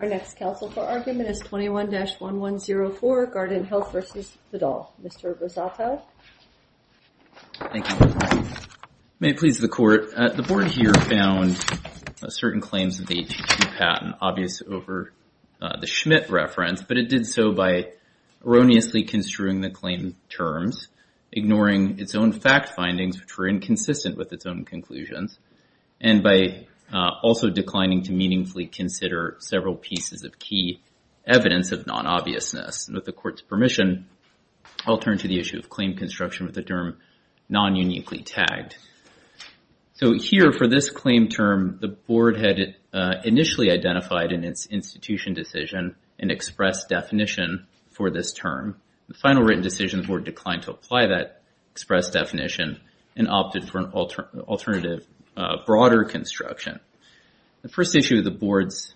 Our next counsel for argument is 21-1104, Guarantant Health v. Vidal. Mr. Rosato. Thank you. May it please the court, the board here found certain claims of the HHP patent obvious over the Schmidt reference, but it did so by erroneously construing the claim terms, ignoring its own fact findings, which were inconsistent with its own conclusions, and by also declining to meaningfully consider several pieces of key evidence of non-obviousness. And with the court's permission, I'll turn to the issue of claim construction with the term non-uniquely tagged. So here for this claim term, the board had initially identified in its institution decision an express definition for this term. The final written decisions were declined to apply that express definition and opted for an alternative broader construction. The first issue of the board's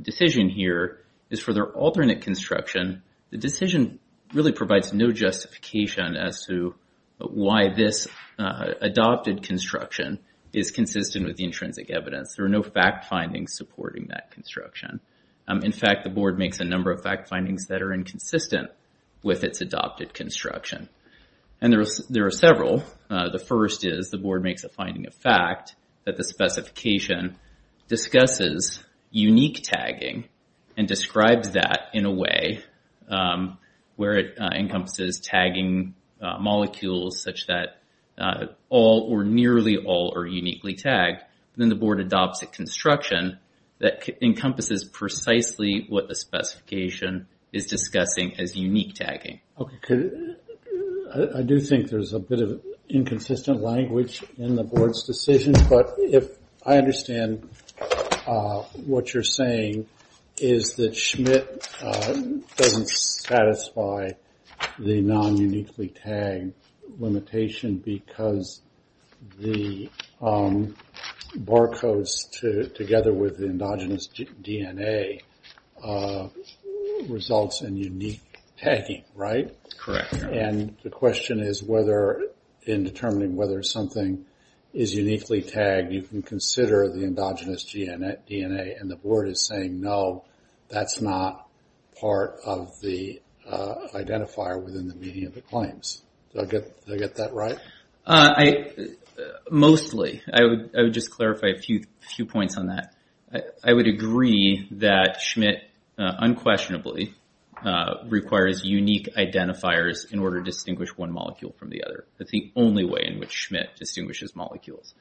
decision here is for their alternate construction, the decision really provides no justification as to why this adopted construction is consistent with the intrinsic evidence. There are no fact findings supporting that construction. In fact, the board makes a number of fact findings that are inconsistent with its adopted construction. And there are several. The first is the board makes a finding of fact that the specification discusses unique tagging and describes that in a way where it encompasses tagging molecules such that all or nearly all are uniquely tagged. Then the board adopts a construction that encompasses precisely what the specification is discussing as unique tagging. Okay, I do think there's a bit of inconsistent language in the board's decision, but I understand what you're saying is that Schmidt doesn't satisfy the non-uniquely tagged limitation because the barcodes together with the endogenous DNA results in unique tagging, right? Correct, yeah. And the question is whether, in determining whether something is uniquely tagged, you can consider the endogenous DNA and the board is saying no, that's not part of the identifier within the median of the claims. Do I get that right? Mostly. I would just clarify a few points on that. I would agree that Schmidt unquestionably requires unique identifiers in order to distinguish one molecule from the other. That's the only way in which Schmidt distinguishes molecules.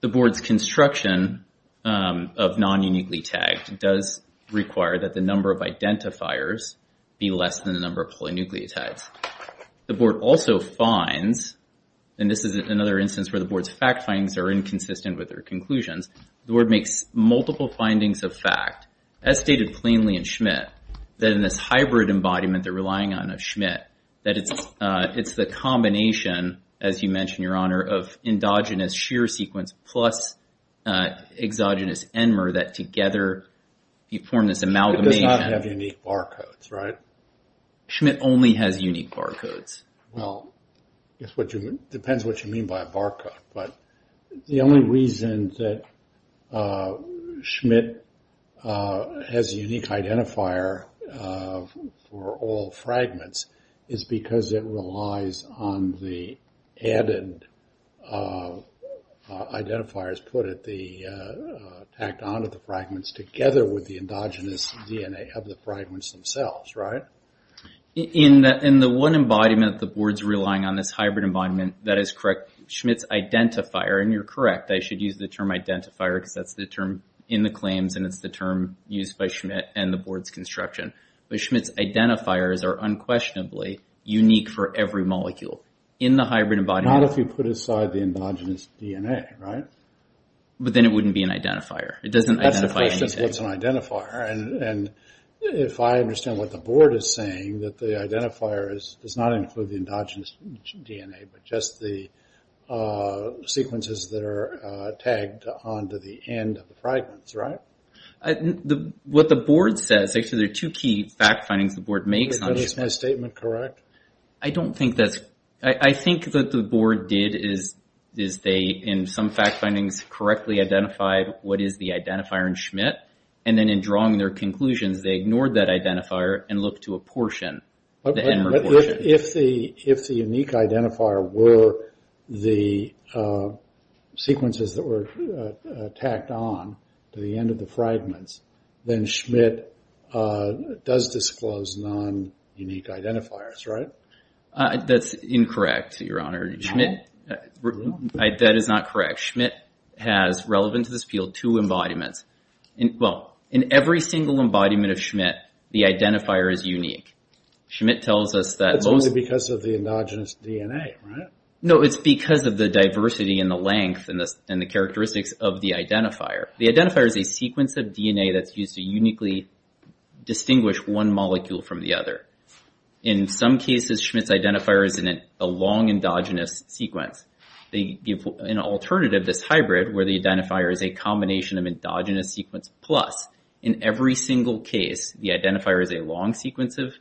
The board's construction of non-uniquely tagged does require that the number of identifiers be less than the number of polynucleotides. The board also finds, and this is another instance where the board's fact findings are inconsistent with their conclusions, the board makes multiple findings of fact as stated plainly in Schmidt that in this hybrid embodiment they're relying on of Schmidt that it's the combination, as you mentioned, Your Honor, of endogenous shear sequence plus exogenous NMR that together you form this amalgamation. It does not have unique barcodes, right? Schmidt only has unique barcodes. Well, it depends what you mean by a barcode, but the only reason that Schmidt has a unique identifier for all fragments is because it relies on the added identifiers, put at the, tacked onto the fragments together with the endogenous DNA of the fragments themselves, right? In the one embodiment the board's relying on this hybrid embodiment, that is correct, Schmidt's identifier, and you're correct, I should use the term identifier because that's the term in the claims and it's the term used by Schmidt and the board's construction, but Schmidt's identifiers are unquestionably unique for every molecule in the hybrid embodiment. Not if you put aside the endogenous DNA, right? But then it wouldn't be an identifier, it doesn't identify anything. That's the question, what's an identifier? And if I understand what the board is saying, that the identifier does not include the endogenous DNA, but just the sequences that are tagged onto the end of the fragments, right? What the board says, actually there are two key fact findings the board makes on Schmidt. Is my statement correct? I don't think that's, I think that the board did is they, in some fact findings, correctly identified what is the identifier in Schmidt, and then in drawing their conclusions, they ignored that identifier and looked to a portion, the NMR portion. If the unique identifier were the sequences that were tacked on to the end of the fragments, then Schmidt does disclose non-unique identifiers, right? That's incorrect, your honor. Schmidt, that is not correct. Schmidt has, relevant to this field, two embodiments. Well, in every single embodiment of Schmidt, the identifier is unique. Schmidt tells us that most- It's only because of the endogenous DNA, right? No, it's because of the diversity and the length and the characteristics of the identifier. The identifier is a sequence of DNA that's used to uniquely distinguish one molecule from the other. In some cases, Schmidt's identifier is in a long endogenous sequence. They give an alternative, this hybrid, where the identifier is a combination of endogenous sequence plus. In every single case, the identifier is a long sequence and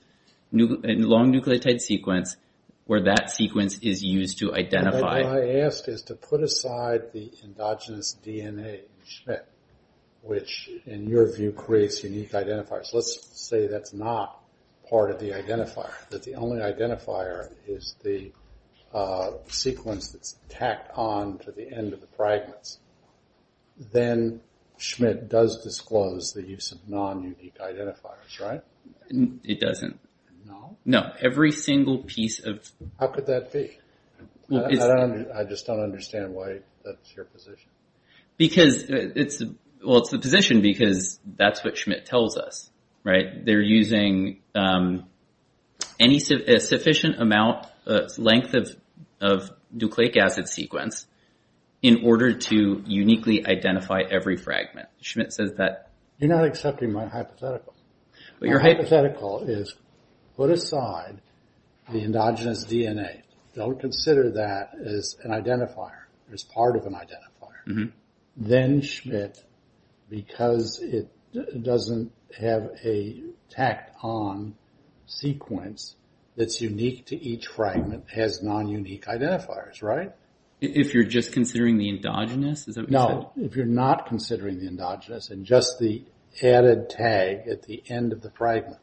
long nucleotide sequence, where that sequence is used to identify. What I ask is to put aside the endogenous DNA in Schmidt, which, in your view, creates unique identifiers. Let's say that's not part of the identifier, that the only identifier is the sequence that's tacked on to the end of the fragments. Then Schmidt does disclose the use of non-unique identifiers, right? It doesn't. No? No, every single piece of. How could that be? I just don't understand why that's your position. Because it's, well, it's the position because that's what Schmidt tells us, right? They're using any sufficient amount, length of nucleic acid sequence in order to uniquely identify every fragment. Schmidt says that. You're not accepting my hypothetical. My hypothetical is, put aside the endogenous DNA. Don't consider that as an identifier, as part of an identifier. Then Schmidt, because it doesn't have a tacked on sequence that's unique to each fragment, has non-unique identifiers, right? If you're just considering the endogenous, No, if you're not considering the endogenous and just the added tag at the end of the fragment,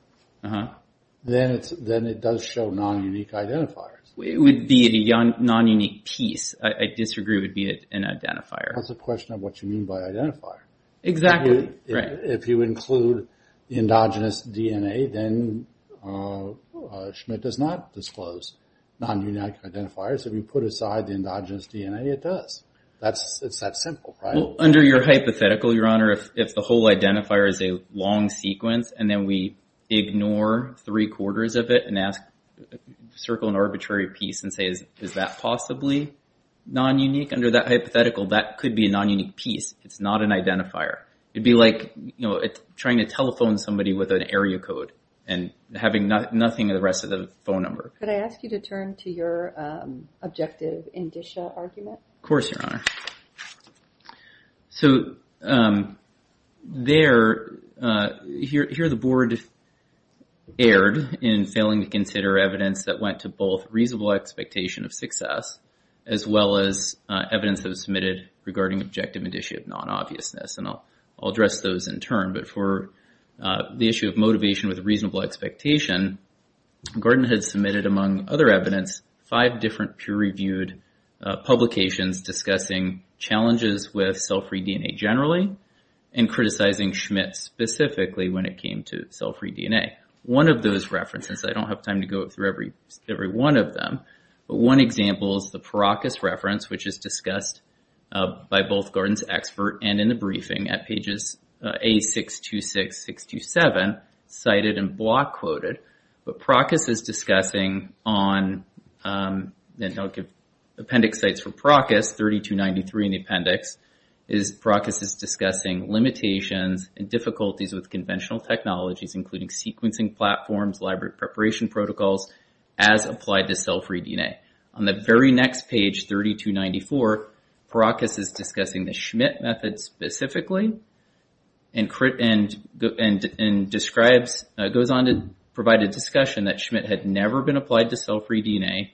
then it does show non-unique identifiers. It would be a non-unique piece. I disagree it would be an identifier. That's the question of what you mean by identifier. Exactly, right. If you include the endogenous DNA, then Schmidt does not disclose non-unique identifiers. If you put aside the endogenous DNA, it does. It's that simple, right? Under your hypothetical, Your Honor, if the whole identifier is a long sequence and then we ignore three quarters of it and circle an arbitrary piece and say, is that possibly non-unique? Under that hypothetical, that could be a non-unique piece. It's not an identifier. It'd be like trying to telephone somebody with an area code and having nothing of the rest of the phone number. Could I ask you to turn to your objective in Disha argument? Of course, Your Honor. So there, here the board erred in failing to consider evidence that went to both reasonable expectation of success as well as evidence that was submitted regarding objective and issue of non-obviousness. And I'll address those in turn. But for the issue of motivation with reasonable expectation, Gordon had submitted, among other evidence, five different peer-reviewed publications discussing challenges with cell-free DNA generally and criticizing Schmidt specifically when it came to cell-free DNA. One of those references, I don't have time to go through every one of them, but one example is the Parakis reference, which is discussed by both Gordon's expert and in the briefing at pages A626, 627, cited and block quoted. But Parakis is discussing on, and I'll give appendix sites for Parakis, 3293 in the appendix, is Parakis is discussing limitations and difficulties with conventional technologies, including sequencing platforms, library preparation protocols, as applied to cell-free DNA. On the very next page, 3294, Parakis is discussing the Schmidt method specifically and describes, goes on to provide a discussion that Schmidt had never been applied to cell-free DNA,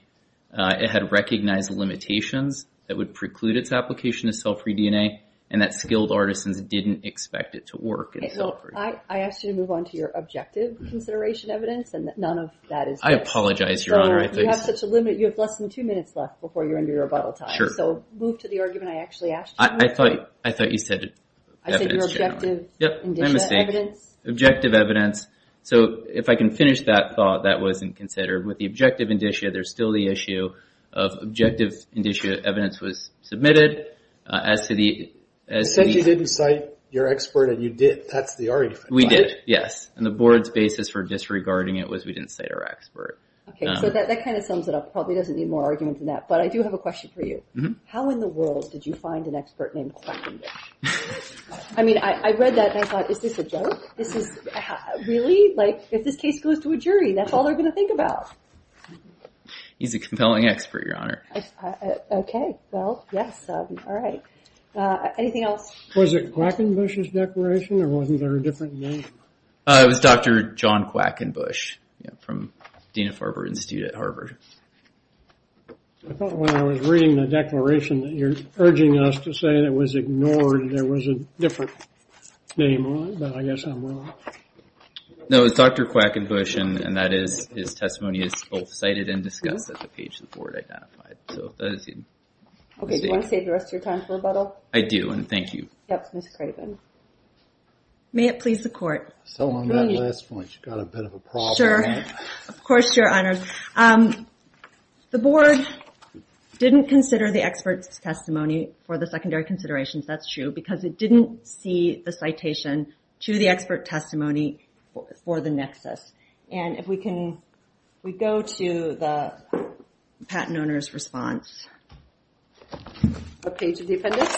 it had recognized limitations that would preclude its application to cell-free DNA, and that skilled artisans didn't expect it to work in cell-free. I asked you to move on to your objective consideration evidence, and none of that is there. I apologize, Your Honor, I think. So, you have such a limited, you have less than two minutes left before you're under your rebuttal time. Sure. So, move to the argument I actually asked you. I thought you said evidence. I said your objective indictment evidence. Objective evidence. So, if I can finish that thought, that wasn't considered. With the objective indicia, there's still the issue of objective indicia, evidence was submitted, as to the- You said you didn't cite your expert, and you did, that's the argument, right? We did, yes. And the board's basis for disregarding it was we didn't cite our expert. Okay, so that kind of sums it up. Probably doesn't need more argument than that, but I do have a question for you. How in the world did you find an expert named Quackendish? I mean, I read that and I thought, is this a joke? This is, really? Like, if this case goes to a jury, that's all they're gonna think about. He's a compelling expert, your honor. Okay, well, yes, all right. Anything else? Was it Quackendish's declaration, or wasn't there a different name? It was Dr. John Quackendish, from Dean of Harvard Institute at Harvard. I thought when I was reading the declaration that you're urging us to say that it was ignored, there was a different name on it, but I guess I'm wrong. No, it was Dr. Quackendish, and that is his testimony is both cited and discussed at the page the board identified. So, if that is even. Okay, do you wanna save the rest of your time for rebuttal? I do, and thank you. Yep, Ms. Craven. May it please the court. So, on that last point, you got a bit of a problem. Sure, of course, your honors. The board didn't consider the expert's testimony for the secondary considerations, that's true, because it didn't see the citation to the expert testimony for the nexus. And if we can, we go to the patent owner's response. A page of the appendix.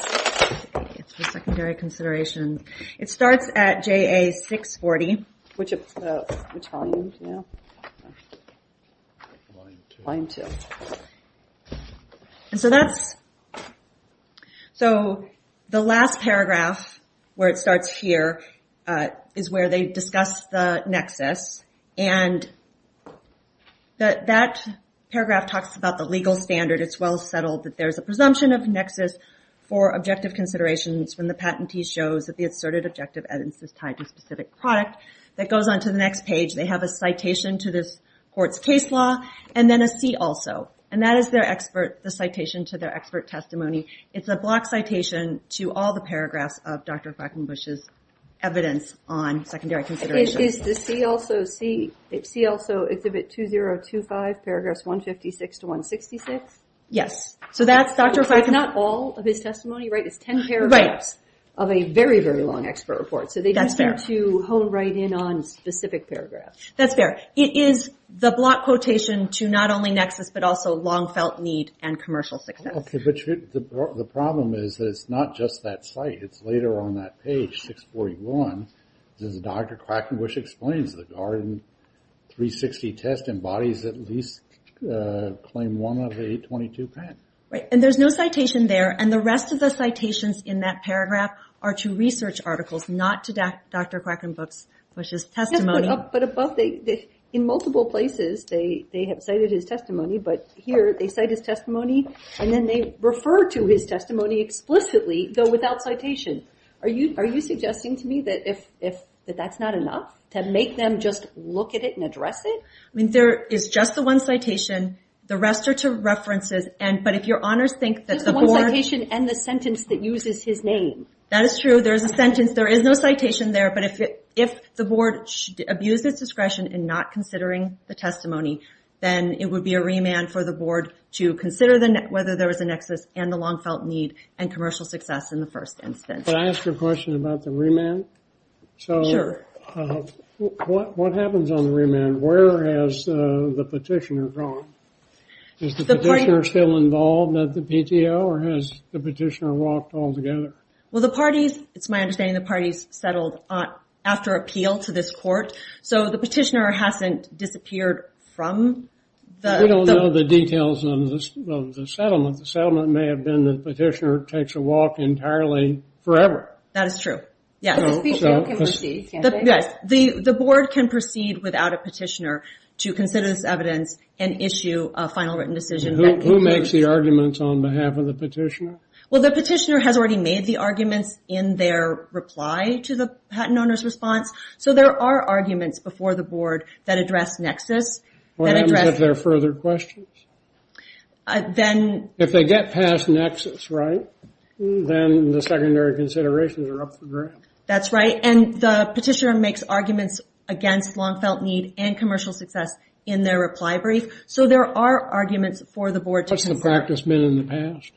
It's for secondary considerations. It starts at JA 640. Which volume, do you know? Line two. Line two. And so that's, so the last paragraph where it starts here is where they discuss the nexus. And that paragraph talks about the legal standard. It's well settled that there's a presumption of nexus for objective considerations when the patentee shows that the asserted objective evidence is tied to a specific product. That goes on to the next page. They have a citation to this court's case law, and then a C also. And that is their expert, the citation to their expert testimony. It's a block citation to all the paragraphs of Dr. Feigenbusch's evidence on secondary considerations. Is the C also, it's a bit 2025, paragraphs 156 to 166? Yes. So that's Dr. Feigenbusch. That's not all of his testimony, right? It's 10 paragraphs of a very, very long expert report. So they do seem to hone right in on specific paragraphs. That's fair. It is the block quotation to not only nexus, but also long felt need and commercial success. Okay, but the problem is that it's not just that site. It's later on that page, 641. This is Dr. Quackenbusch explains the garden 360 test embodies at least claim one of the 822 patents. Right, and there's no citation there. And the rest of the citations in that paragraph are to research articles, not to Dr. Quackenbusch's testimony. But above, in multiple places, they have cited his testimony, but here they cite his testimony, and then they refer to his testimony explicitly, though without citation. Are you suggesting to me that that's not enough to make them just look at it and address it? I mean, there is just the one citation. The rest are to references. But if your honors think that the board. Just the one citation and the sentence that uses his name. That is true. There's a sentence, there is no citation there. But if the board abused its discretion in not considering the testimony, then it would be a remand for the board to consider whether there was a nexus and the long felt need and commercial success in the first instance. But I asked you a question about the remand. So, what happens on the remand? Where has the petitioner gone? Is the petitioner still involved at the PTO, or has the petitioner walked all together? Well, the parties, it's my understanding the parties settled after appeal to this court. So, the petitioner hasn't disappeared from the. We don't know the details of the settlement. The settlement may have been the petitioner takes a walk entirely forever. That is true, yes. So, the PTO can proceed, can't they? Yes, the board can proceed without a petitioner to consider this evidence and issue a final written decision that can be. Who makes the arguments on behalf of the petitioner? Well, the petitioner has already made the arguments in their reply to the patent owner's response. So, there are arguments before the board that address nexus, that address. What happens if there are further questions? Then. If they get past nexus, right? Then the secondary considerations are up for grabs. That's right, and the petitioner makes arguments against long felt need and commercial success in their reply brief. So, there are arguments for the board to consider. How much has the practice been in the past?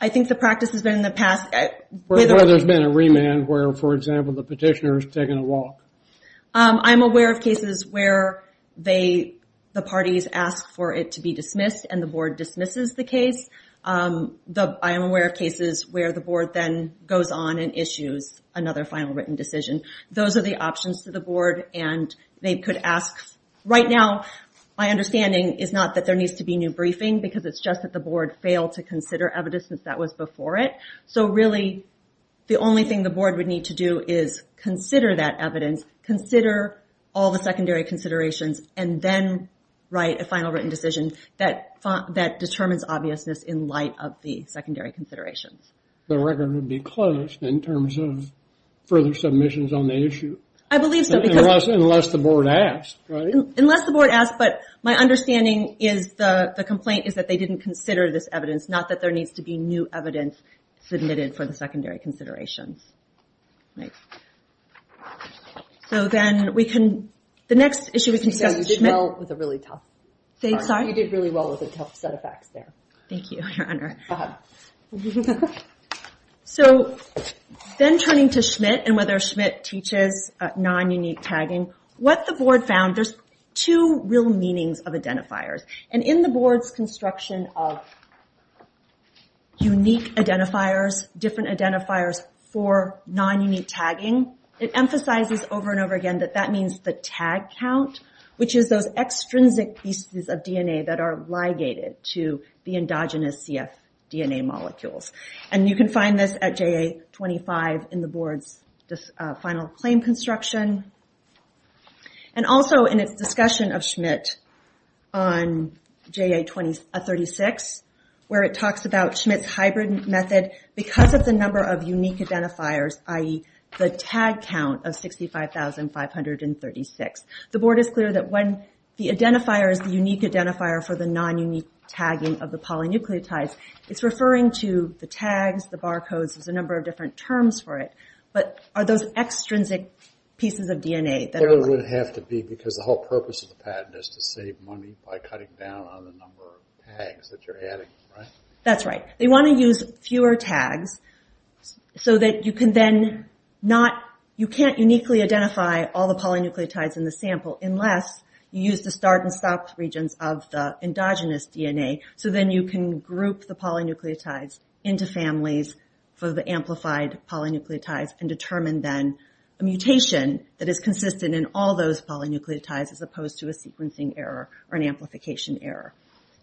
I think the practice has been in the past. Whether there's been a remand where, for example, the petitioner has taken a walk. I'm aware of cases where the parties ask for it to be dismissed and the board dismisses the case. I am aware of cases where the board then goes on and issues another final written decision. Those are the options to the board and they could ask, right now, my understanding is not that there needs to be new briefing because it's just that the board failed to consider evidence that was before it. So, really, the only thing the board would need to do is consider that evidence, consider all the secondary considerations, and then write a final written decision that determines obviousness in light of the secondary considerations. The record would be closed in terms of further submissions on the issue. I believe so, because... Unless the board asks, right? Unless the board asks, but my understanding is the complaint is that they didn't consider this evidence, not that there needs to be new evidence submitted for the secondary considerations. So, then, we can... The next issue we can discuss is Schmidt. Yeah, you did well with a really tough... Thanks, sorry? You did really well with a tough set of facts there. Thank you, your honor. Go ahead. So, then turning to Schmidt and whether Schmidt teaches non-unique tagging, what the board found, there's two real meanings of identifiers. And in the board's construction of unique identifiers, different identifiers for non-unique tagging, it emphasizes over and over again that that means the tag count, which is those extrinsic pieces of DNA that are ligated to the endogenous CF DNA molecules. And you can find this at JA-25 in the board's final claim construction. And also, in its discussion of Schmidt on JA-36, where it talks about Schmidt's hybrid method because of the number of unique identifiers, i.e., the tag count of 65,536. The board is clear that when the identifier is the unique identifier for the non-unique tagging of the polynucleotides, it's referring to the tags, the barcodes, there's a number of different terms for it. But are those extrinsic pieces of DNA that are... Those would have to be because the whole purpose of the patent is to save money by cutting down on the number of tags that you're adding, right? That's right. They wanna use fewer tags so that you can then not... You can't uniquely identify all the polynucleotides in the sample unless you use the start and stop regions of the endogenous DNA. So then you can group the polynucleotides into families for the amplified polynucleotides and determine then a mutation that is consistent in all those polynucleotides as opposed to a sequencing error or an amplification error.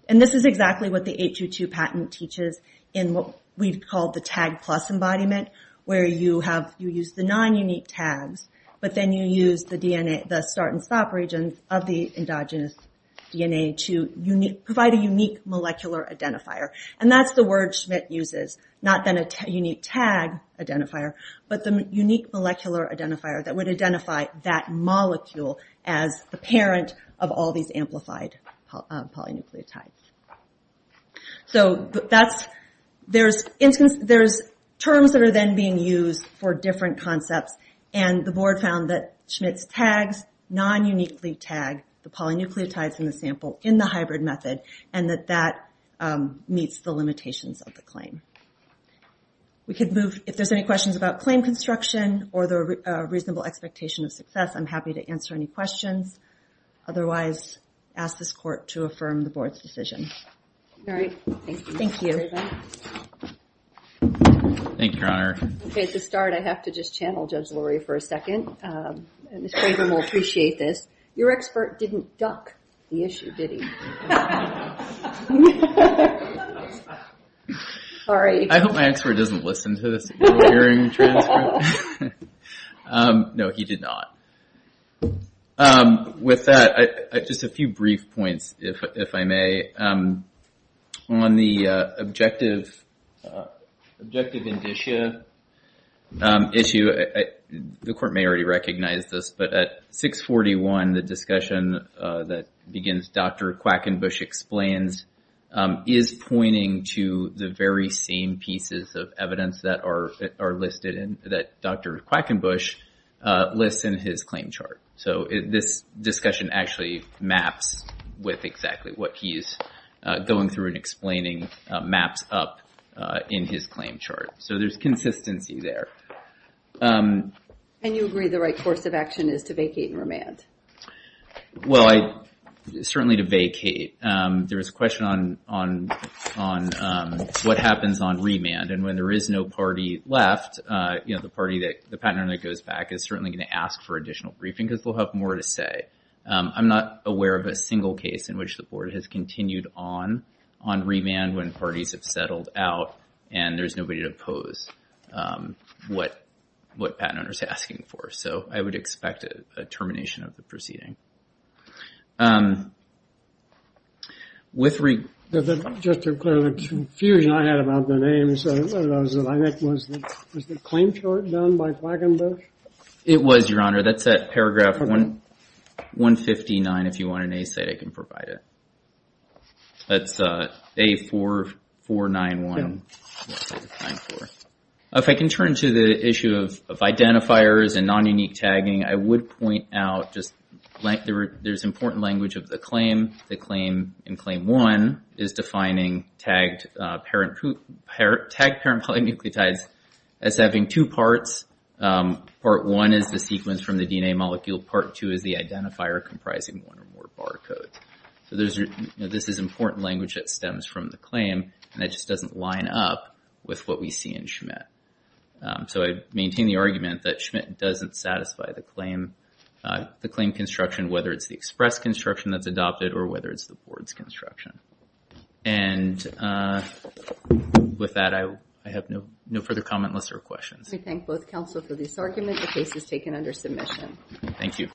And this is exactly what the 822 patent teaches in what we've called the tag plus embodiment, where you use the non-unique tags, but then you use the start and stop regions of the endogenous DNA to provide a unique molecular identifier. And that's the word Schmidt uses, not then a unique tag identifier, but the unique molecular identifier that would identify that molecule as the parent of all these amplified polynucleotides. So there's terms that are then being used for different concepts and the board found that Schmidt's tags non-uniquely tag the polynucleotides in the sample in the hybrid method and that that meets the limitations of the claim. We could move, if there's any questions about claim construction or the reasonable expectation of success, I'm happy to answer any questions. Otherwise, ask this court to affirm the board's decision. All right, thank you. Thank you, Your Honor. Okay, to start, I have to just channel Judge Luria for a second. Ms. Craven will appreciate this. Your expert didn't duck the issue, did he? No. Sorry. I hope my expert doesn't listen to this earring transfer. No, he did not. With that, just a few brief points, if I may. On the objective indicia issue, the court may already recognize this, but at 641, the discussion that begins, Dr. Quackenbush explains, is pointing to the very same pieces of evidence that are listed in, that Dr. Quackenbush lists in his claim chart. So this discussion actually maps with exactly what he is going through and explaining maps up in his claim chart. So there's consistency there. And you agree the right course of action is to vacate and remand? Well, certainly to vacate. There was a question on what happens on remand, and when there is no party left, the party that, the patent owner that goes back is certainly gonna ask for additional briefing because they'll have more to say. I'm not aware of a single case in which the board has continued on remand when parties have settled out, and there's nobody to oppose what patent owner's asking for. So I would expect a termination of the proceeding. With re. Just to clear the confusion I had about the name, so one of those that I meant was the claim chart done by Quackenbush? It was, Your Honor. That's at paragraph 159, if you want an A-site, I can provide it. That's A4491. If I can turn to the issue of identifiers and non-unique tagging, I would point out just there's important language of the claim. The claim in claim one is defining tagged parent polynucleotides as having two parts part one is the sequence from the DNA molecule, part two is the identifier comprising one or more barcodes. So this is important language that stems from the claim, and it just doesn't line up with what we see in Schmidt. So I maintain the argument that Schmidt doesn't satisfy the claim construction, whether it's the express construction that's adopted or whether it's the board's construction. And with that, I have no further comment, lists, or questions. I thank both counsel for this argument. The case is taken under submission. Thank you.